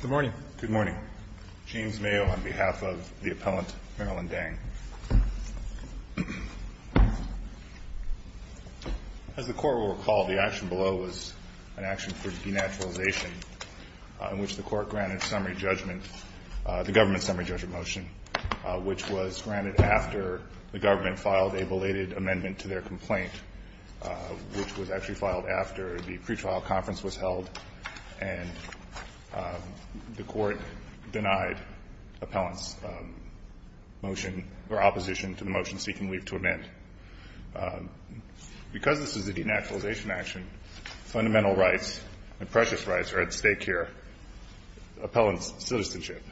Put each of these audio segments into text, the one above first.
Good morning. Good morning. James Mayo on behalf of the appellant Marilyn Dang. As the Court will recall, the action below was an action for denaturalization in which the Court granted the government's summary judgment motion, which was granted after the government filed a belated amendment to their complaint, which was actually filed after the pretrial conference was held. And the Court denied appellant's motion or opposition to the motion seeking leave to amend. Because this is a denaturalization action, fundamental rights and precious rights are at stake here, appellant's citizenship.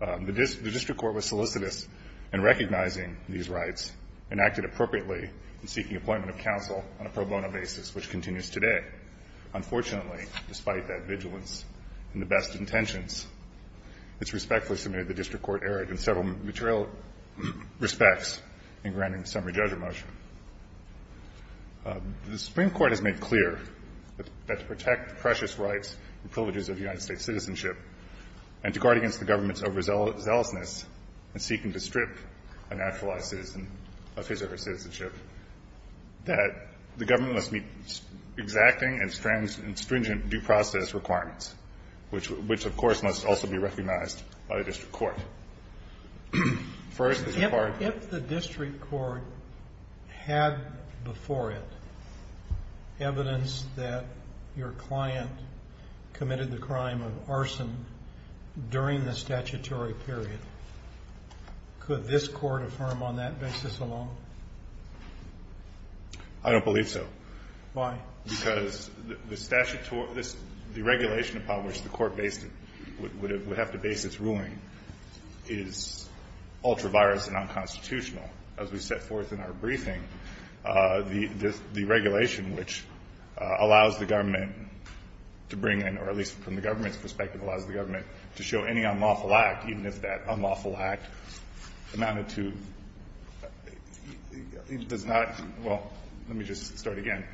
The district court was solicitous in recognizing these rights and acted appropriately in seeking appointment of counsel on a pro bono basis, which continues today. Unfortunately, despite that vigilance and the best intentions, it's respectfully submitted the district court erred in several material respects in granting the summary judgment motion. The Supreme Court has made clear that to protect the precious rights and privileges of United States citizenship and to guard against the government's overzealousness in seeking to strip a naturalized citizen of his or her citizenship, that the government must meet exacting and stringent due process requirements, which, of course, must also be recognized by the district court. First, as a part of the ---- Kennedy. If the district court had before it evidence that your client committed the crime of arson during the statutory period, could this court affirm on that basis alone? I don't believe so. Why? Because the statutory ---- the regulation upon which the court would have to base its ruling is ultra-virus and unconstitutional. As we set forth in our briefing, the regulation which allows the government to bring in, or at least from the government's perspective, allows the government to show any unlawful act, even if that unlawful act amounted to ---- does not ---- well, let me just start again.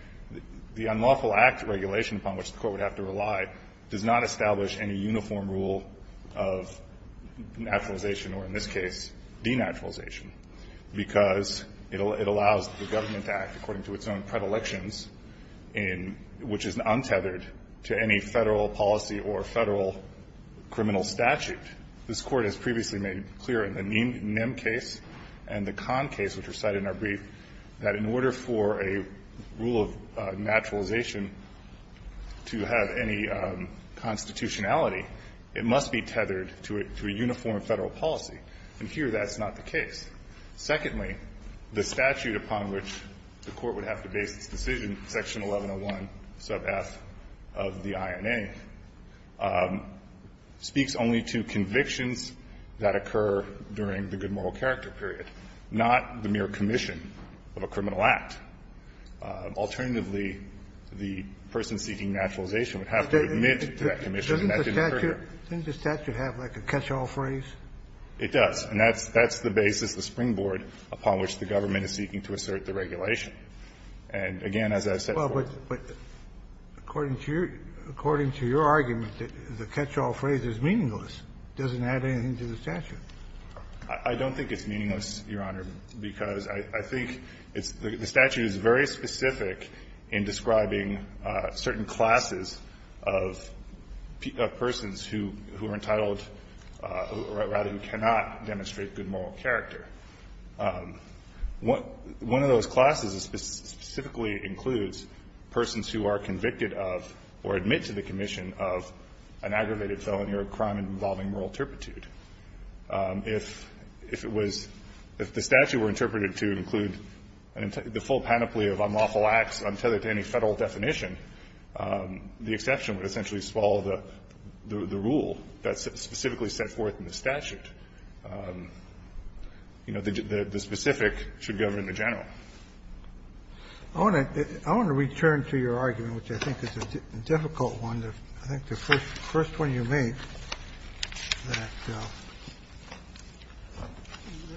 The unlawful act regulation upon which the court would have to rely does not establish any uniform rule of naturalization or, in this case, denaturalization because it allows the government to act according to its own predilections in ---- which is untethered to any Federal policy or Federal criminal statute. This Court has previously made clear in the Nim case and the Kahn case, which were cited in our brief, that in order for a rule of naturalization to have any constitutionality, it must be tethered to a uniform Federal policy. And here that's not the case. Secondly, the statute upon which the court would have to base its decision, Section 1, provides for the convictions that occur during the good moral character period, not the mere commission of a criminal act. Alternatively, the person seeking naturalization would have to admit to that commission and that didn't occur here. Kennedy. Doesn't the statute have like a catch-all phrase? It does. And that's the basis, the springboard upon which the government is seeking to assert the regulation. And again, as I said before ---- Kennedy. According to your argument, the catch-all phrase is meaningless. It doesn't add anything to the statute. I don't think it's meaningless, Your Honor, because I think it's the statute is very specific in describing certain classes of persons who are entitled, or rather who cannot demonstrate good moral character. One of those classes specifically includes persons who are convicted of or admit to the commission of an aggravated felony or a crime involving moral turpitude. If it was the statute were interpreted to include the full panoply of unlawful acts untethered to any Federal definition, the exception would essentially swallow the rule that's specifically set forth in the statute. You know, the specific should govern the general. I want to return to your argument, which I think is a difficult one. I think the first one you made, that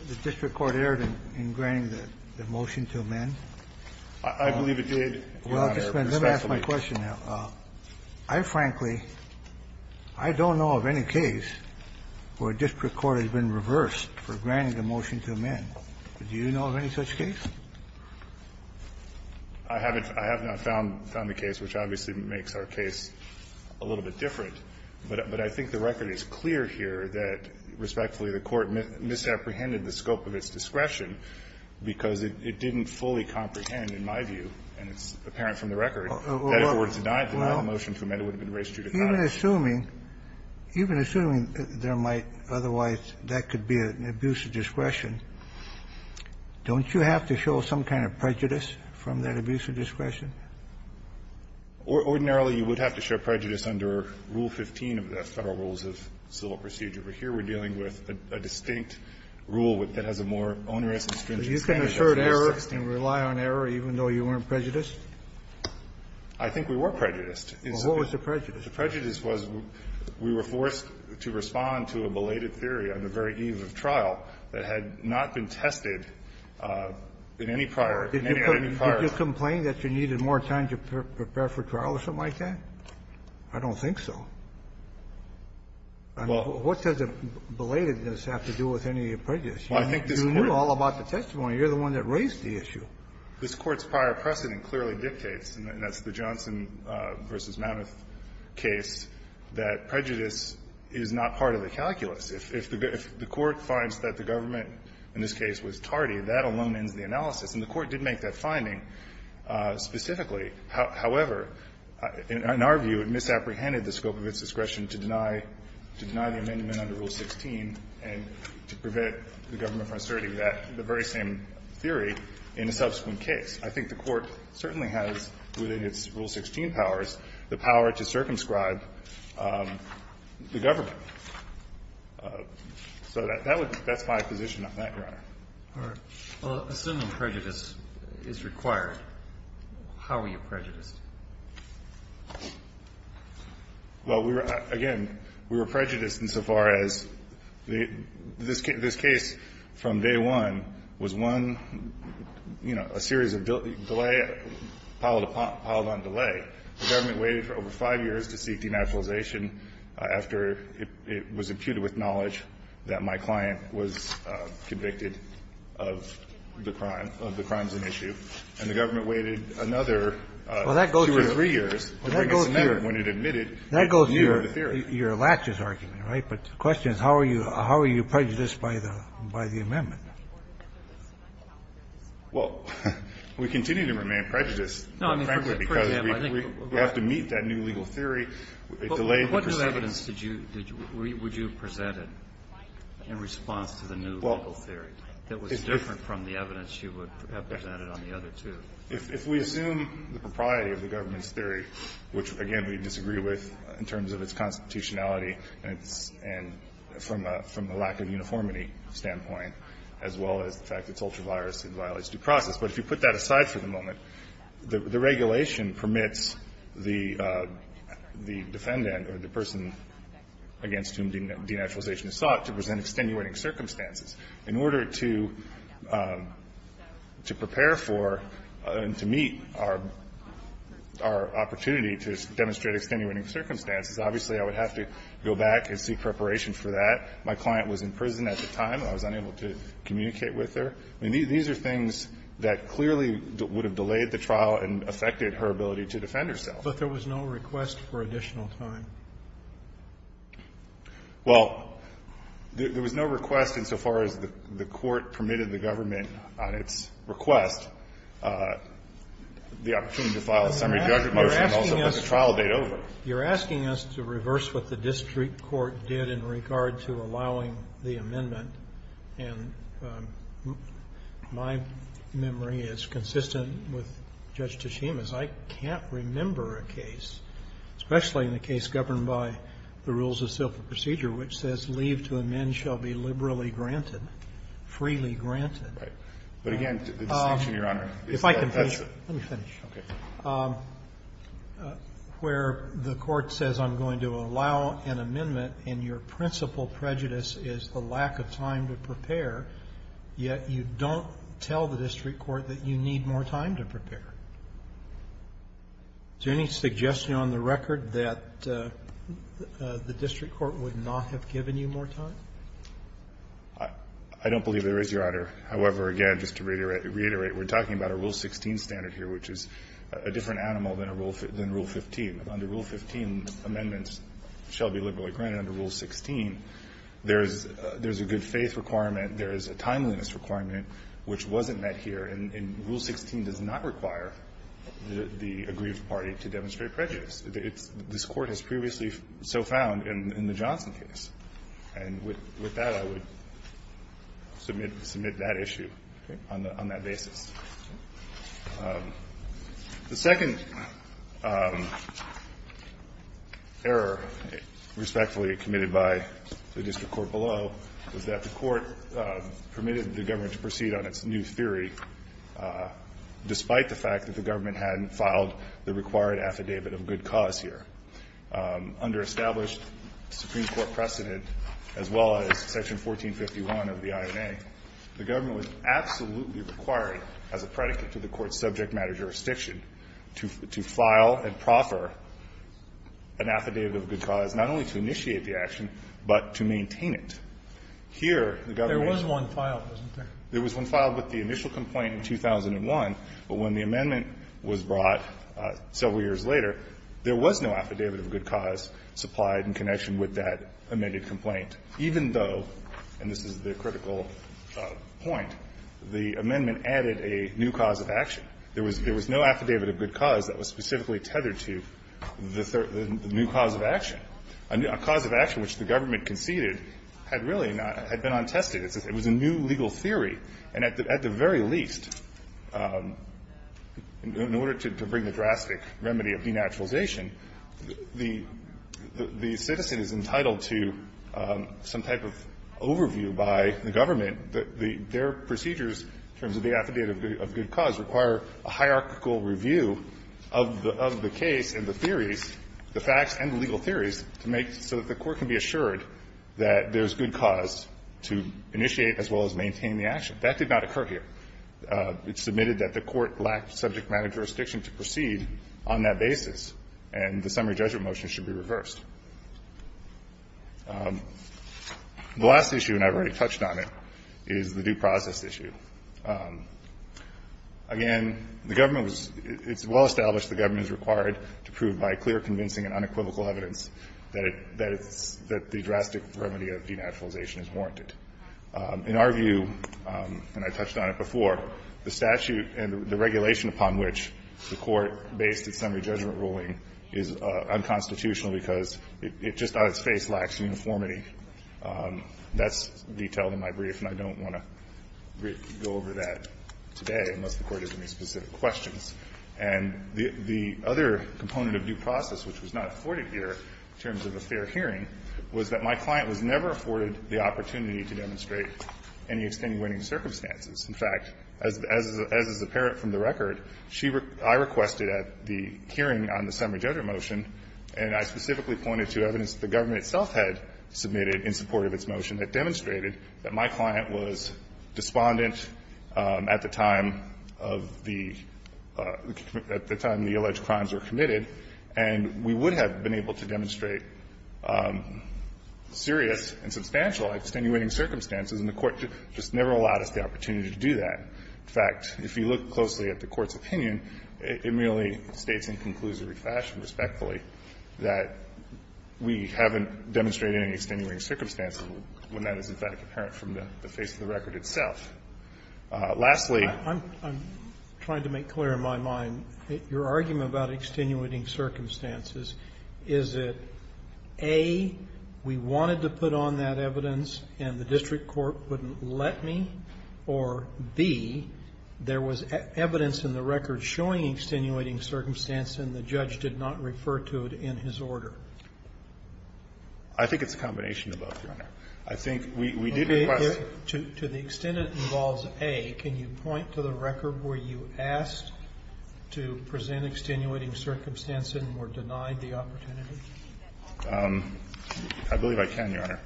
the district court erred in granting the motion to amend. I believe it did, Your Honor. Respectfully. Let me ask my question now. I frankly, I don't know of any case where a district court has been reversed for granting a motion to amend. Do you know of any such case? I haven't found the case, which obviously makes our case a little bit different. But I think the record is clear here that, respectfully, the Court misapprehended the scope of its discretion because it didn't fully comprehend, in my view, and it's Well, even assuming, even assuming there might otherwise, that could be an abuse of discretion, don't you have to show some kind of prejudice from that abuse of discretion? Ordinarily, you would have to show prejudice under Rule 15 of the Federal Rules of Civil Procedure. But here we're dealing with a distinct rule that has a more onerous and stringent standard. So you can assert error and rely on error even though you weren't prejudiced? I think we were prejudiced. Well, what was the prejudice? The prejudice was we were forced to respond to a belated theory on the very eve of trial that had not been tested in any prior, in any of the prior. Did you complain that you needed more time to prepare for trial or something like that? I don't think so. Well, what does belatedness have to do with any prejudice? You knew all about the testimony. You're the one that raised the issue. This Court's prior precedent clearly dictates, and that's the Johnson v. Mammoth case, that prejudice is not part of the calculus. If the Court finds that the government in this case was tardy, that alone ends the analysis. And the Court did make that finding specifically. However, in our view, it misapprehended the scope of its discretion to deny the amendment under Rule 16 and to prevent the government from asserting that, the very same theory in a subsequent case. I think the Court certainly has, within its Rule 16 powers, the power to circumscribe the government. So that's my position on that, Your Honor. All right. Well, assuming prejudice is required, how were you prejudiced? Well, we were, again, we were prejudiced insofar as this case from day one was one of, you know, a series of delay, piled on delay. The government waited for over five years to seek denaturalization after it was imputed with knowledge that my client was convicted of the crime, of the crimes in issue. And the government waited another two or three years to bring us a memo when it admitted that he knew the theory. That goes to your latches argument, right? But the question is, how are you prejudiced by the amendment? Well, we continue to remain prejudiced, frankly, because we have to meet that new legal theory. It delayed the proceedings. But what new evidence did you, would you have presented in response to the new legal theory that was different from the evidence you would have presented on the other two? If we assume the propriety of the government's theory, which, again, we disagree with in terms of its constitutionality and from a lack of uniformity standpoint, as well as the fact that it's ultra-virus and violates due process, but if you put that aside for the moment, the regulation permits the defendant or the person against whom denaturalization is sought to present extenuating circumstances. In order to prepare for and to meet our opportunity to demonstrate extenuating circumstances, obviously, I would have to go back and seek preparation for that. My client was in prison at the time, and I was unable to communicate with her. I mean, these are things that clearly would have delayed the trial and affected her ability to defend herself. But there was no request for additional time. Well, there was no request insofar as the Court permitted the government on its request the opportunity to file a summary judgment motion and also put the trial date over. You're asking us to reverse what the district court did in regard to allowing the amendment, and my memory is consistent with Judge Tshima's. I can't remember a case, especially in a case governed by the rules of civil procedure, which says leave to amend shall be liberally granted, freely granted. But, again, the distinction, Your Honor, is that that's a. If I can finish. Let me finish. Okay. Where the Court says I'm going to allow an amendment and your principal prejudice is the lack of time to prepare, yet you don't tell the district court that you need more time to prepare. Is there any suggestion on the record that the district court would not have given you more time? I don't believe there is, Your Honor. However, again, just to reiterate, we're talking about a Rule 16 standard here, which is a different animal than Rule 15. Under Rule 15, amendments shall be liberally granted. Under Rule 16, there is a good faith requirement, there is a timeliness requirement which wasn't met here, and Rule 16 does not require the aggrieved party to demonstrate prejudice. This Court has previously so found in the Johnson case. And with that, I would submit that issue on that basis. The second error respectfully committed by the district court below was that the Court permitted the government to proceed on its new theory, despite the fact that the government hadn't filed the required affidavit of good cause here. Under established Supreme Court precedent, as well as Section 1451 of the INA, the court's subject matter jurisdiction to file and proffer an affidavit of good cause not only to initiate the action, but to maintain it. Here, the government was one filed, wasn't there? There was one filed with the initial complaint in 2001, but when the amendment was brought several years later, there was no affidavit of good cause supplied in connection with that amended complaint, even though, and this is the critical point, the amendment added a new cause of action. There was no affidavit of good cause that was specifically tethered to the new cause of action, a cause of action which the government conceded had really not been untested. It was a new legal theory. And at the very least, in order to bring the drastic remedy of denaturalization, the citizen is entitled to some type of overview by the government. Their procedures, in terms of the affidavit of good cause, require a hierarchical review of the case and the theories, the facts and the legal theories, to make sure that the court can be assured that there's good cause to initiate as well as maintain the action. That did not occur here. It's submitted that the court lacked subject matter jurisdiction to proceed on that basis, and the summary judgment motion should be reversed. The last issue, and I've already touched on it, is the due process issue. Again, the government was – it's well established the government is required to prove by clear, convincing and unequivocal evidence that it's – that the drastic remedy of denaturalization is warranted. In our view, and I touched on it before, the statute and the regulation upon which the court based its summary judgment ruling is unconstitutional because it just out of its face lacks uniformity. That's detailed in my brief, and I don't want to go over that today unless the Court has any specific questions. And the other component of due process which was not afforded here in terms of a fair hearing was that my client was never afforded the opportunity to demonstrate any extenuating circumstances. In fact, as is apparent from the record, she – I requested at the hearing on the summary judgment motion, and I specifically pointed to evidence that the government itself had submitted in support of its motion that demonstrated that my client was despondent at the time of the – at the time the alleged crimes were committed, and we would have been able to demonstrate serious and substantial extenuating circumstances, and the Court just never allowed us the opportunity to do so. In fact, if you look closely at the Court's opinion, it merely states in conclusory fashion, respectfully, that we haven't demonstrated any extenuating circumstances when that is, in fact, apparent from the face of the record itself. Lastly, I'm – I'm trying to make clear in my mind that your argument about extenuating circumstances, is it, A, we wanted to put on that evidence and the district court wouldn't let me, or, B, there was evidence in the record showing extenuating circumstance and the judge did not refer to it in his order? I think it's a combination of both, Your Honor. I think we – we did request – To the extent it involves A, can you point to the record where you asked to present extenuating circumstances and were denied the opportunity? I believe I can, Your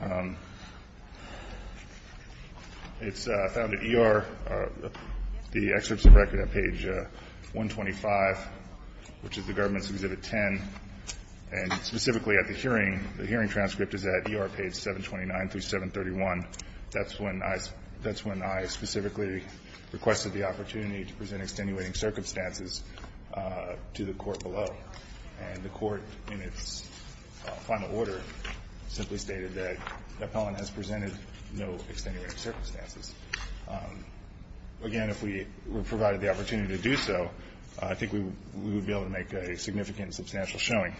Honor. It's found at ER, the excerpts of record at page 125, which is the government's Exhibit 10, and specifically at the hearing, the hearing transcript is at ER page 729 through 731. That's when I – that's when I specifically requested the opportunity to present extenuating circumstances to the Court below. And the Court, in its final order, simply stated that Epelin has presented no extenuating circumstances. Again, if we were provided the opportunity to do so, I think we would be able to make a significant and substantial showing.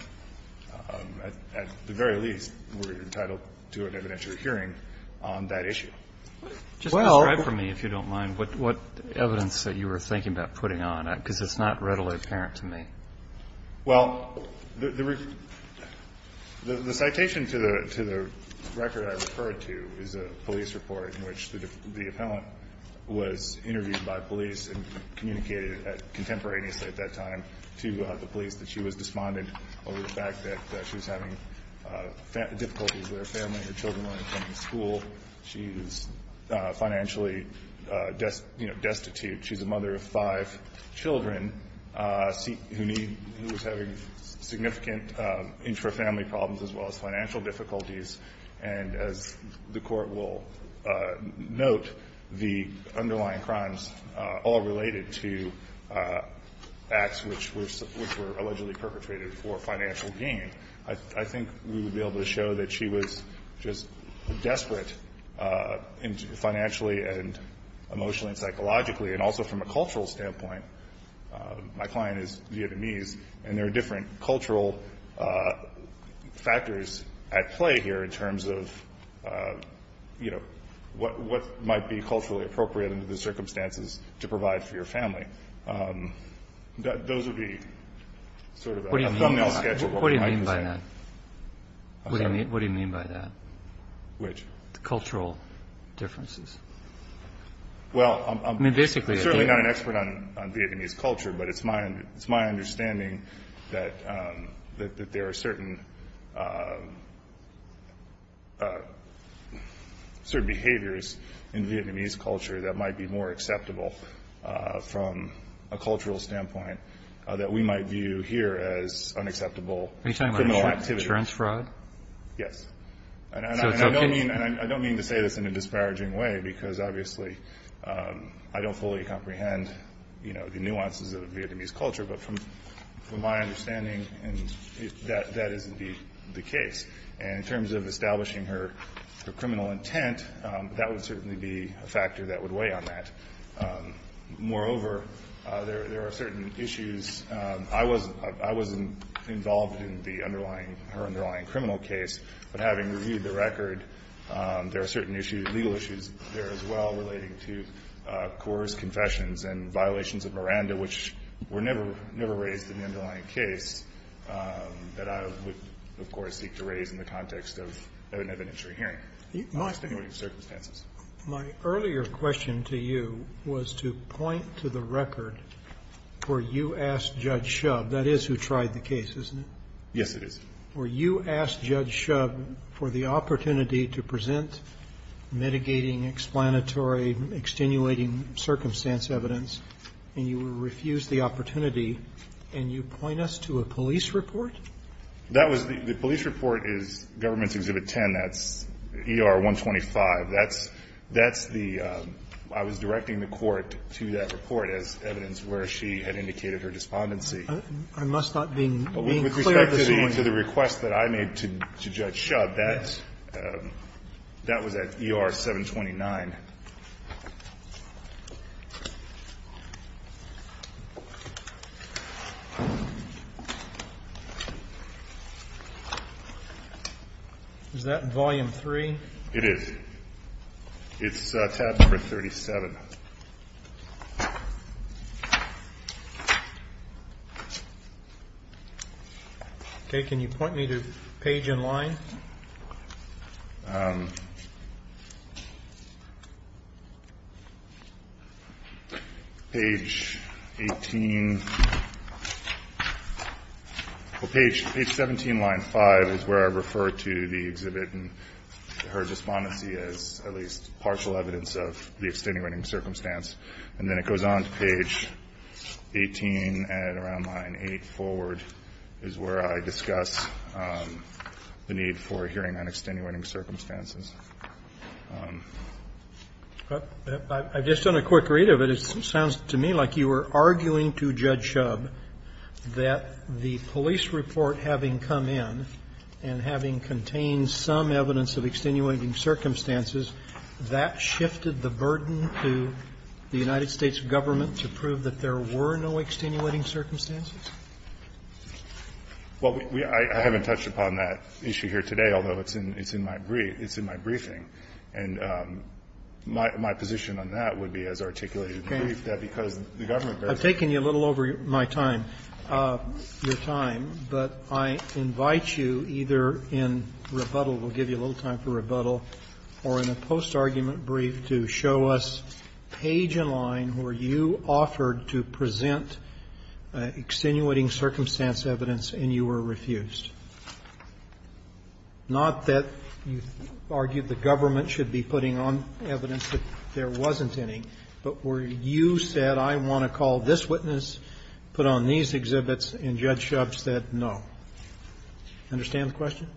At the very least, we're entitled to an evidentiary hearing on that issue. Just describe for me, if you don't mind, what evidence that you were thinking about putting on, because it's not readily apparent to me. Well, the citation to the record I referred to is a police report in which the appellant was interviewed by police and communicated contemporaneously at that time to the police that she was despondent over the fact that she was having difficulties with her family. Her children weren't attending school. She is financially, you know, destitute. She's a mother of five children who need – who was having significant intrafamily problems as well as financial difficulties. And as the Court will note, the underlying crimes all related to acts which were allegedly perpetrated for financial gain. I think we would be able to show that she was just desperate financially and emotionally and psychologically. And also from a cultural standpoint, my client is Vietnamese, and there are different cultural factors at play here in terms of, you know, what might be culturally appropriate under the circumstances to provide for your family. Those would be sort of a thumbnail sketch of what we might be saying. What do you mean by that? What do you mean by that? Which? The cultural differences. Well, I'm certainly not an expert on Vietnamese culture, but it's my understanding that there are certain behaviors in Vietnamese culture that might be more acceptable from a cultural standpoint that we might view here as unacceptable criminal activity. Are you talking about insurance fraud? Yes. And I don't mean to say this in a disparaging way, because obviously I don't fully comprehend, you know, the nuances of Vietnamese culture. But from my understanding, that is indeed the case. And in terms of establishing her criminal intent, that would certainly be a factor that would weigh on that. Moreover, there are certain issues. I was involved in the underlying, her underlying criminal case. But having reviewed the record, there are certain issues, legal issues there as well, relating to Coors' confessions and violations of Miranda, which were never raised in the underlying case, that I would, of course, seek to raise in the context of an evidentiary hearing. My earlier question to you was to point to the record where you asked the court to ask Judge Shubb. That is who tried the case, isn't it? Yes, it is. Where you asked Judge Shubb for the opportunity to present mitigating, explanatory, extenuating circumstance evidence, and you refused the opportunity, and you point us to a police report? That was the police report is Government's Exhibit 10. That's ER 125. That's the, I was directing the court to that report as evidence where she had indicated her despondency. I must not be being clear at this point. With respect to the request that I made to Judge Shubb, that's, that was at ER 729. Is that volume 3? It is. It's tab number 37. Okay. Can you point me to page and line? Page 18, well, page 17, line 5 is where I refer to the exhibit and her despondency as at least partial evidence of the extenuating circumstance. And then it goes on to page 18 and around line 8 forward is where I discuss the need for hearing on extenuating circumstances. I've just done a quick read of it. It sounds to me like you were arguing to Judge Shubb that the police report having come in and having contained some evidence of extenuating circumstances, that shifted the burden to the United States Government to prove that there were no extenuating circumstances? Well, I haven't touched upon that issue here today, although it's in my brief. It's in my briefing. And my position on that would be as articulated in the brief, that because the Government I've taken you a little over my time, your time. But I invite you either in rebuttal, we'll give you a little time for rebuttal, or in a post-argument brief to show us page and line where you offered to present extenuating circumstance evidence and you were refused. Not that you argued the Government should be putting on evidence that there wasn't any, but where you said, I want to call this witness, put on these exhibits, and Judge Shubb said no. Understand the question?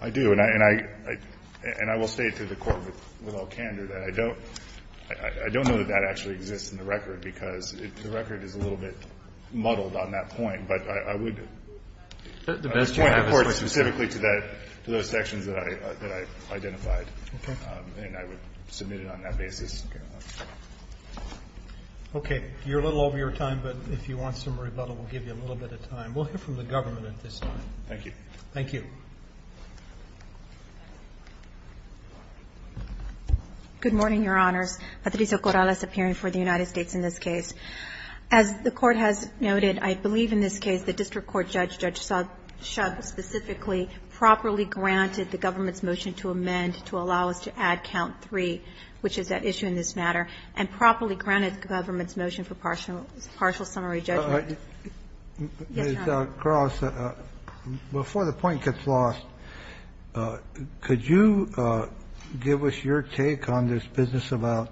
I do. And I will say to the Court with all candor that I don't know that that actually exists in the record, because the record is a little bit muddled on that point. But I would point the Court specifically to those sections that I identified. Okay. And I would submit it on that basis. Okay. You're a little over your time, but if you want some rebuttal, we'll give you a little bit of time. We'll hear from the Government at this time. Thank you. Thank you. Good morning, Your Honors. Patrizia Corrales appearing for the United States in this case. As the Court has noted, I believe in this case the district court judge, Judge Shubb specifically, properly granted the government's motion to amend to allow us to add count three, which is at issue in this matter, and properly granted the government's motion for partial summary judgment. Yes, Your Honor. Ms. Corrales, before the point gets lost, could you give us your take on this business about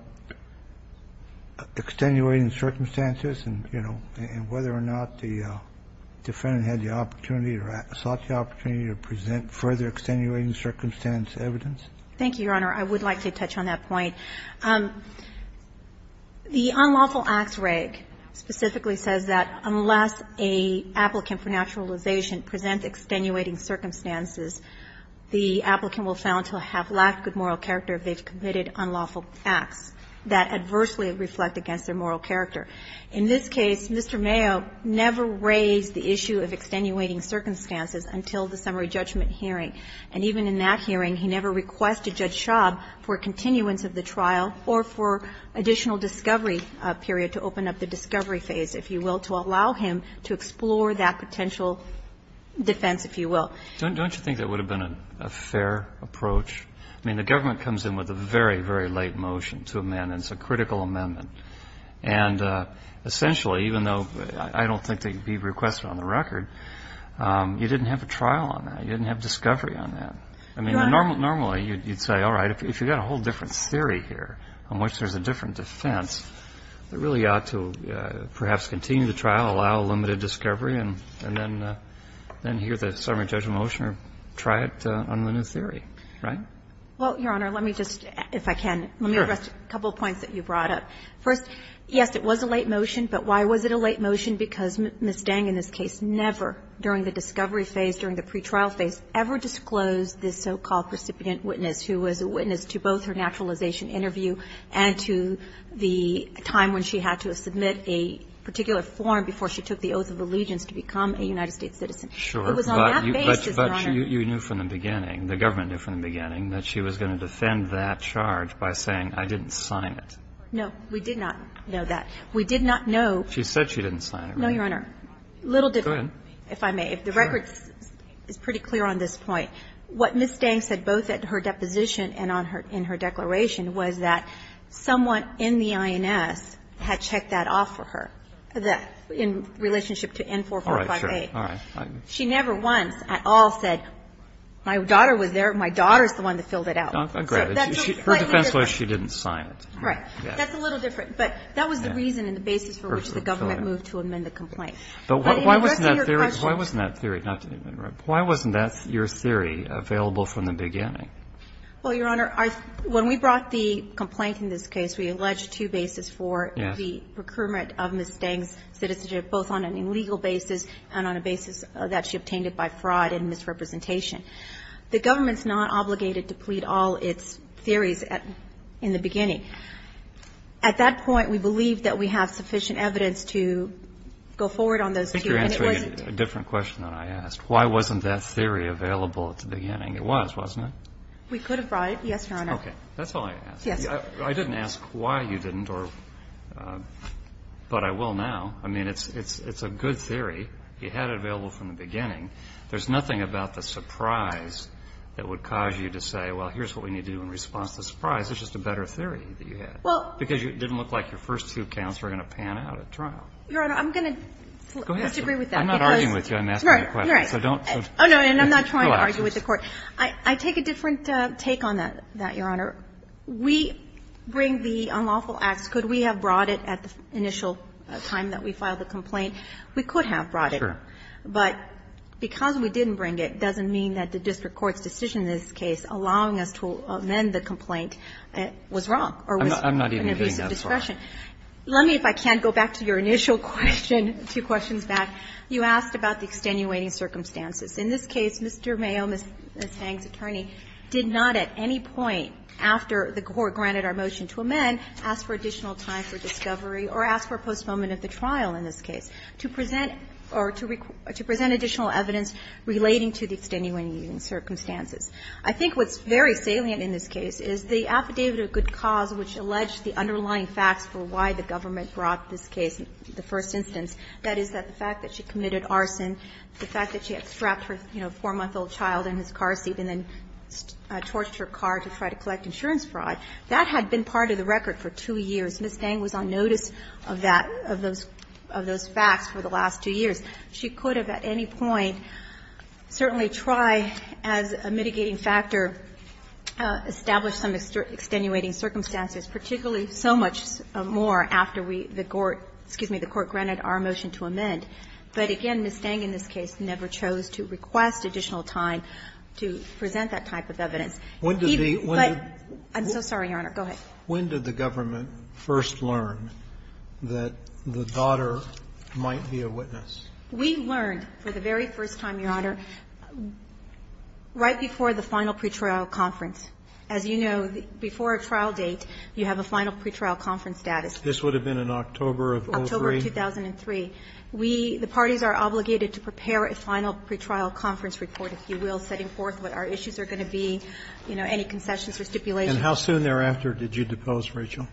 extenuating circumstances and, you know, and whether or not the defendant had the opportunity or sought the opportunity to present further extenuating circumstance evidence? Thank you, Your Honor. I would like to touch on that point. The unlawful acts reg specifically says that unless an applicant for naturalization presents extenuating circumstances, the applicant will fail until they have lacked good moral character if they've committed unlawful acts that adversely reflect against their moral character. In this case, Mr. Mayo never raised the issue of extenuating circumstances until the summary judgment hearing. And even in that hearing, he never requested Judge Shubb for continuance of the trial or for additional discovery period to open up the discovery phase, if you will, to allow him to explore that potential defense, if you will. Don't you think that would have been a fair approach? I mean, the government comes in with a very, very late motion to amend, and it's a critical amendment. And essentially, even though I don't think they'd be requested on the record, you didn't have a trial on that. You didn't have discovery on that. I mean, normally you'd say, all right, if you've got a whole different theory here on which there's a different defense, it really ought to perhaps continue the trial, allow limited discovery, and then hear the summary judgment motion or try it on the new theory, right? Well, Your Honor, let me just, if I can, let me address a couple of points that you brought up. First, yes, it was a late motion, but why was it a late motion? Because Ms. Deng in this case never, during the discovery phase, during the pretrial phase, ever disclosed this so-called precipitant witness who was a witness to both her naturalization interview and to the time when she had to submit a particular form before she took the oath of allegiance to become a United States citizen. It was on that basis, Your Honor. But you knew from the beginning, the government knew from the beginning, that she was going to defend that charge by saying, I didn't sign it. No. We did not know that. We did not know. She said she didn't sign it, right? No, Your Honor. Go ahead. A little different, if I may. If the record is pretty clear on this point, what Ms. Deng said both at her deposition and in her declaration was that someone in the INS had checked that off for her, in relationship to N-4458. All right. Sure. All right. She never once at all said, my daughter was there. My daughter is the one that filled it out. I agree. Her defense was she didn't sign it. Right. That's a little different, but that was the reason and the basis for which the government moved to amend the complaint. But why wasn't that theory, why wasn't that theory, not to interrupt, why wasn't that your theory available from the beginning? Well, Your Honor, when we brought the complaint in this case, we alleged two bases for the procurement of Ms. Deng's citizenship, both on an illegal basis and on a basis that she obtained it by fraud and misrepresentation. The government's not obligated to plead all its theories in the beginning. At that point, we believe that we have sufficient evidence to go forward on those theories. I think you're answering a different question than I asked. Why wasn't that theory available at the beginning? It was, wasn't it? We could have brought it. Yes, Your Honor. Okay. That's all I asked. Yes. I didn't ask why you didn't, but I will now. I mean, it's a good theory. You had it available from the beginning. There's nothing about the surprise that would cause you to say, well, here's what we need to do in response to the surprise. It's just a better theory that you had. Well. Because it didn't look like your first two counts were going to pan out at trial. Your Honor, I'm going to disagree with that. Go ahead. I'm not arguing with you. I'm asking a question. You're right. Oh, no, and I'm not trying to argue with the Court. Relax. I take a different take on that, Your Honor. We bring the unlawful acts. Could we have brought it at the initial time that we filed the complaint? We could have brought it. Sure. But because we didn't bring it doesn't mean that the district court's decision in this case allowing us to amend the complaint was wrong or was an abuse of discretion. I'm not even getting that far. Let me, if I can, go back to your initial question, a few questions back. You asked about the extenuating circumstances. In this case, Mr. Mayo, Ms. Fang's attorney, did not at any point after the Court granted our motion to amend ask for additional time for discovery or ask for a postponement of the trial in this case. To present or to present additional evidence relating to the extenuating circumstances. I think what's very salient in this case is the affidavit of good cause, which alleged the underlying facts for why the government brought this case, the first instance, that is, that the fact that she committed arson, the fact that she had strapped her, you know, 4-month-old child in his car seat and then torched her car to try to collect insurance fraud, that had been part of the record for 2 years. Ms. Fang was on notice of that, of those facts for the last 2 years. She could have at any point certainly tried as a mitigating factor, established some extenuating circumstances, particularly so much more after we, the Court, excuse me, the Court granted our motion to amend. But again, Ms. Fang in this case never chose to request additional time to present that type of evidence. He, but, I'm so sorry, Your Honor, go ahead. When did the government first learn that the daughter might be a witness? We learned for the very first time, Your Honor, right before the final pretrial conference. As you know, before a trial date, you have a final pretrial conference status. This would have been in October of 2003? October of 2003. We, the parties, are obligated to prepare a final pretrial conference report, if you will, setting forth what our issues are going to be, you know, any concessions or stipulations. And how soon thereafter did you depose Rachel?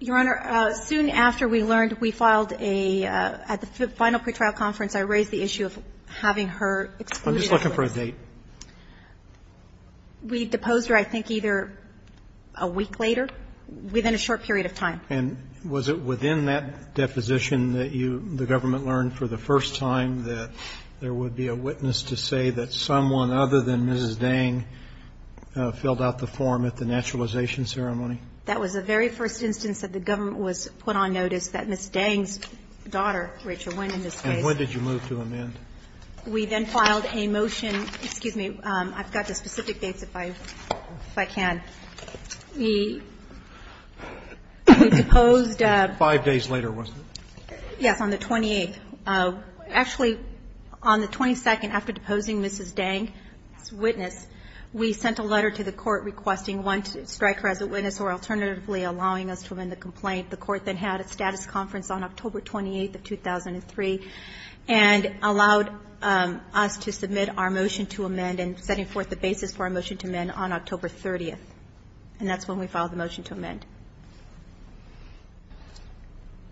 Your Honor, soon after we learned, we filed a, at the final pretrial conference, I raised the issue of having her excluded. I'm just looking for a date. We deposed her, I think, either a week later, within a short period of time. And was it within that deposition that you, the government, learned for the first time that there would be a witness to say that someone other than Mrs. Dang filled out the form at the naturalization ceremony? That was the very first instance that the government was put on notice that Mrs. Dang's daughter, Rachel, went in this case. And when did you move to amend? We then filed a motion. Excuse me. I've got the specific dates, if I can. We deposed. Five days later, wasn't it? Yes, on the 28th. Actually, on the 22nd, after deposing Mrs. Dang's witness, we sent a letter to the court requesting one striker as a witness or alternatively allowing us to amend the complaint. The court then had a status conference on October 28th of 2003 and allowed us to submit our motion to amend and setting forth the basis for our motion to amend on October 30th. And that's when we filed the motion to amend.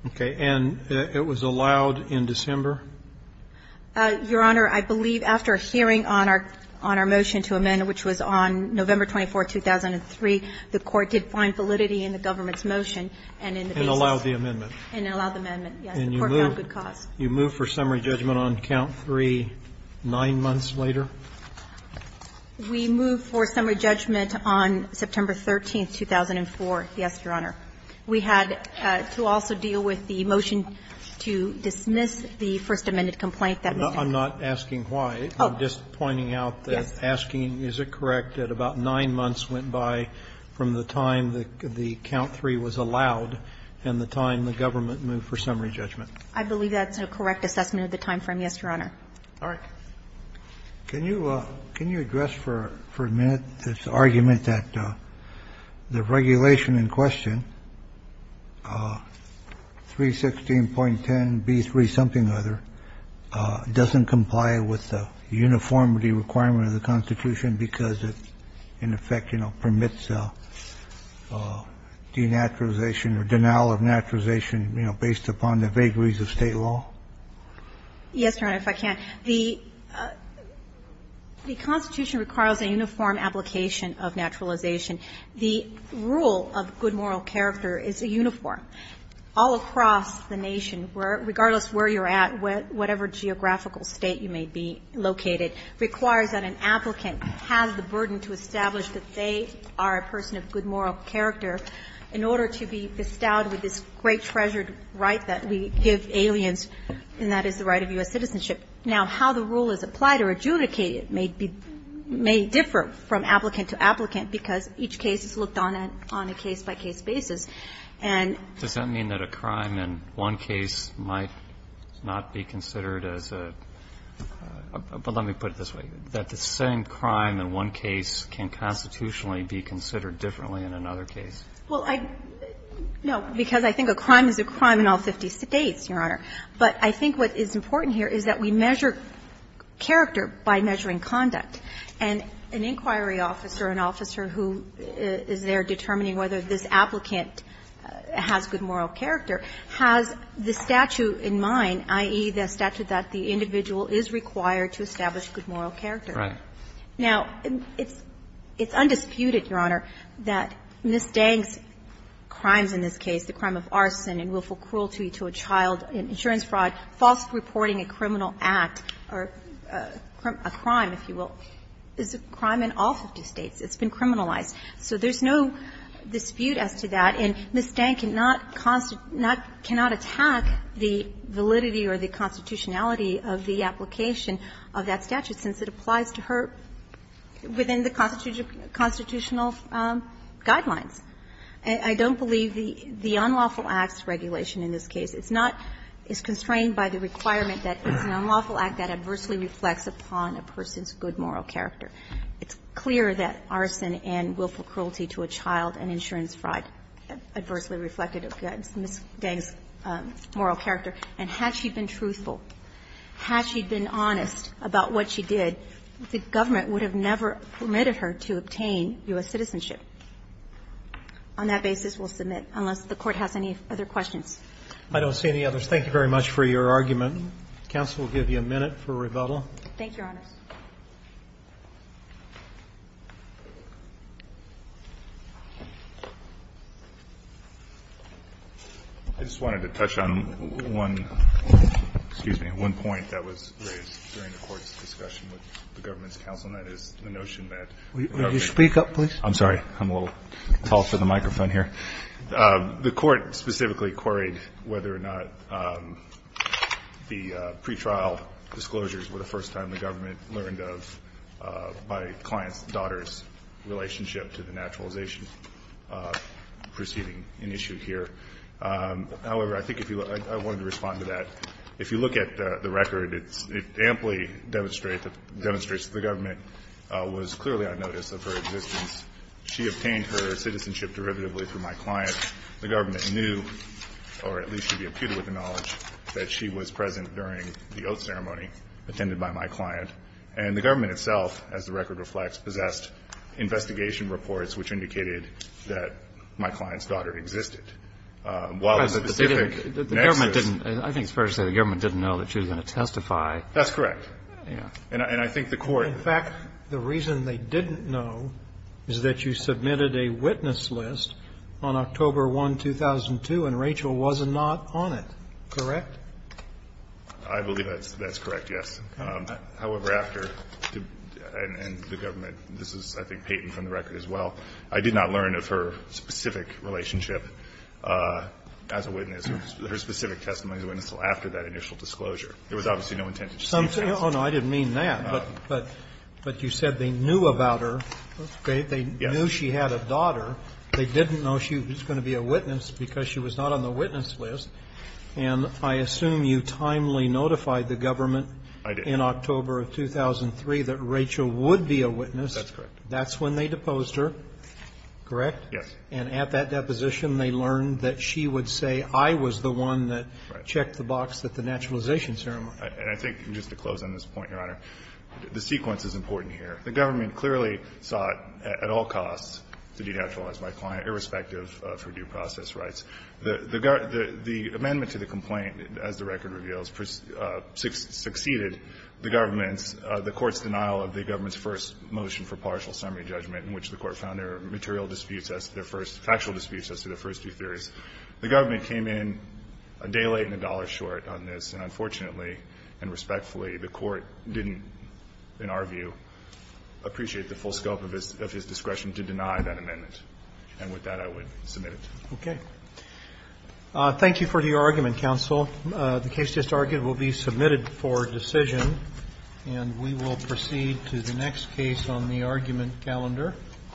Okay. And it was allowed in December? Your Honor, I believe after a hearing on our motion to amend, which was on November 24th, 2003, the court did find validity in the government's motion and in the basis. And allowed the amendment. And allowed the amendment, yes. The court found good cause. And you moved for summary judgment on count 3 nine months later? We moved for summary judgment on September 13th, 2004, yes, Your Honor. We had to also deal with the motion to dismiss the First Amendment complaint that Mr. Dang filed. I'm not asking why. Oh. I'm just pointing out that asking is it correct that about nine months went by from the time that the count 3 was allowed and the time the government moved for summary judgment? I believe that's a correct assessment of the time frame, yes, Your Honor. All right. Can you address for a minute this argument that the regulation in question, 316.10b3 something or other, doesn't comply with the uniformity requirement of the Constitution because it, in effect, you know, permits denaturalization or denial of naturalization, you know, based upon the vagaries of State law? Yes, Your Honor, if I can. The Constitution requires a uniform application of naturalization. The rule of good moral character is a uniform all across the nation, regardless of where you're at, whatever geographical state you may be located, requires that an applicant has the burden to establish that they are a person of good moral character in order to be bestowed with this great treasured right that we give aliens, and that is the right of U.S. citizenship. Now, how the rule is applied or adjudicated may differ from applicant to applicant because each case is looked on a case-by-case basis. And Does that mean that a crime in one case might not be considered as a, but let me put it this way, that the same crime in one case can constitutionally be considered differently in another case? Well, I, no, because I think a crime is a crime in all 50 States, Your Honor. But I think what is important here is that we measure character by measuring conduct. And an inquiry officer, an officer who is there determining whether this applicant has good moral character, has the statute in mind, i.e., the statute that the individual is required to establish good moral character. Right. Now, it's undisputed, Your Honor, that Ms. Dang's crimes in this case, the crime of arson and willful cruelty to a child, insurance fraud, false reporting a criminal act, or a crime, if you will, is a crime in all 50 States. It's been criminalized. So there's no dispute as to that. And Ms. Dang cannot constitute, cannot attack the validity or the constitutionality of the application of that statute since it applies to her within the constitutional guidelines. I don't believe the unlawful acts regulation in this case is not, is constrained by the requirement that it's an unlawful act that adversely reflects upon a person's good moral character. It's clear that arson and willful cruelty to a child and insurance fraud adversely reflected Ms. Dang's moral character. And had she been truthful, had she been honest about what she did, the government would have never permitted her to obtain U.S. citizenship. On that basis, we'll submit, unless the Court has any other questions. Roberts, I don't see any others. Thank you very much for your argument. Counsel will give you a minute for rebuttal. Thank you, Your Honors. I just wanted to touch on one, excuse me, one point that was raised during the Court's discussion with the government's counsel, and that is the notion that the government's counsel. Will you speak up, please? I'm sorry. I'm a little tall for the microphone here. The Court specifically queried whether or not the pretrial disclosures were the first time the government learned of my client's daughter's relationship to the naturalization proceeding in issue here. However, I think if you – I wanted to respond to that. If you look at the record, it's – it amply demonstrates that the government was clearly on notice of her existence. She obtained her citizenship derivatively through my client. The government knew, or at least should be imputed with the knowledge, that she was present during the oath ceremony attended by my client. And the government itself, as the record reflects, possessed investigation reports which indicated that my client's daughter existed. While the specific nexus – But they didn't – the government didn't – I think it's fair to say the government didn't know that she was going to testify. That's correct. And I think the Court – And I think the Court's assessment is that you submitted a witness list on October 1, 2002, and Rachel was not on it, correct? I believe that's correct, yes. However, after – and the government – this is, I think, patent from the record as well. I did not learn of her specific relationship as a witness, her specific testimony as a witness, until after that initial disclosure. There was obviously no intent to just see the testimony. Oh, no, I didn't mean that, but you said they knew about her. That's great. They knew she had a daughter. They didn't know she was going to be a witness because she was not on the witness list. And I assume you timely notified the government in October of 2003 that Rachel would be a witness. That's correct. That's when they deposed her, correct? Yes. And at that deposition, they learned that she would say, I was the one that – Right. Checked the box at the naturalization ceremony. And I think, just to close on this point, Your Honor, the sequence is important here. The government clearly sought, at all costs, to de-naturalize my client, irrespective of her due process rights. The amendment to the complaint, as the record reveals, succeeded the government's – the Court's denial of the government's first motion for partial summary judgment, in which the Court found their material disputes as their first – factual disputes as their first two theories. The government came in a day late and a dollar short on this. And unfortunately, and respectfully, the Court didn't, in our view, appreciate the full scope of his discretion to deny that amendment. And with that, I would submit it. Okay. Thank you for your argument, counsel. The case just argued will be submitted for decision. And we will proceed to the next case on the argument calendar.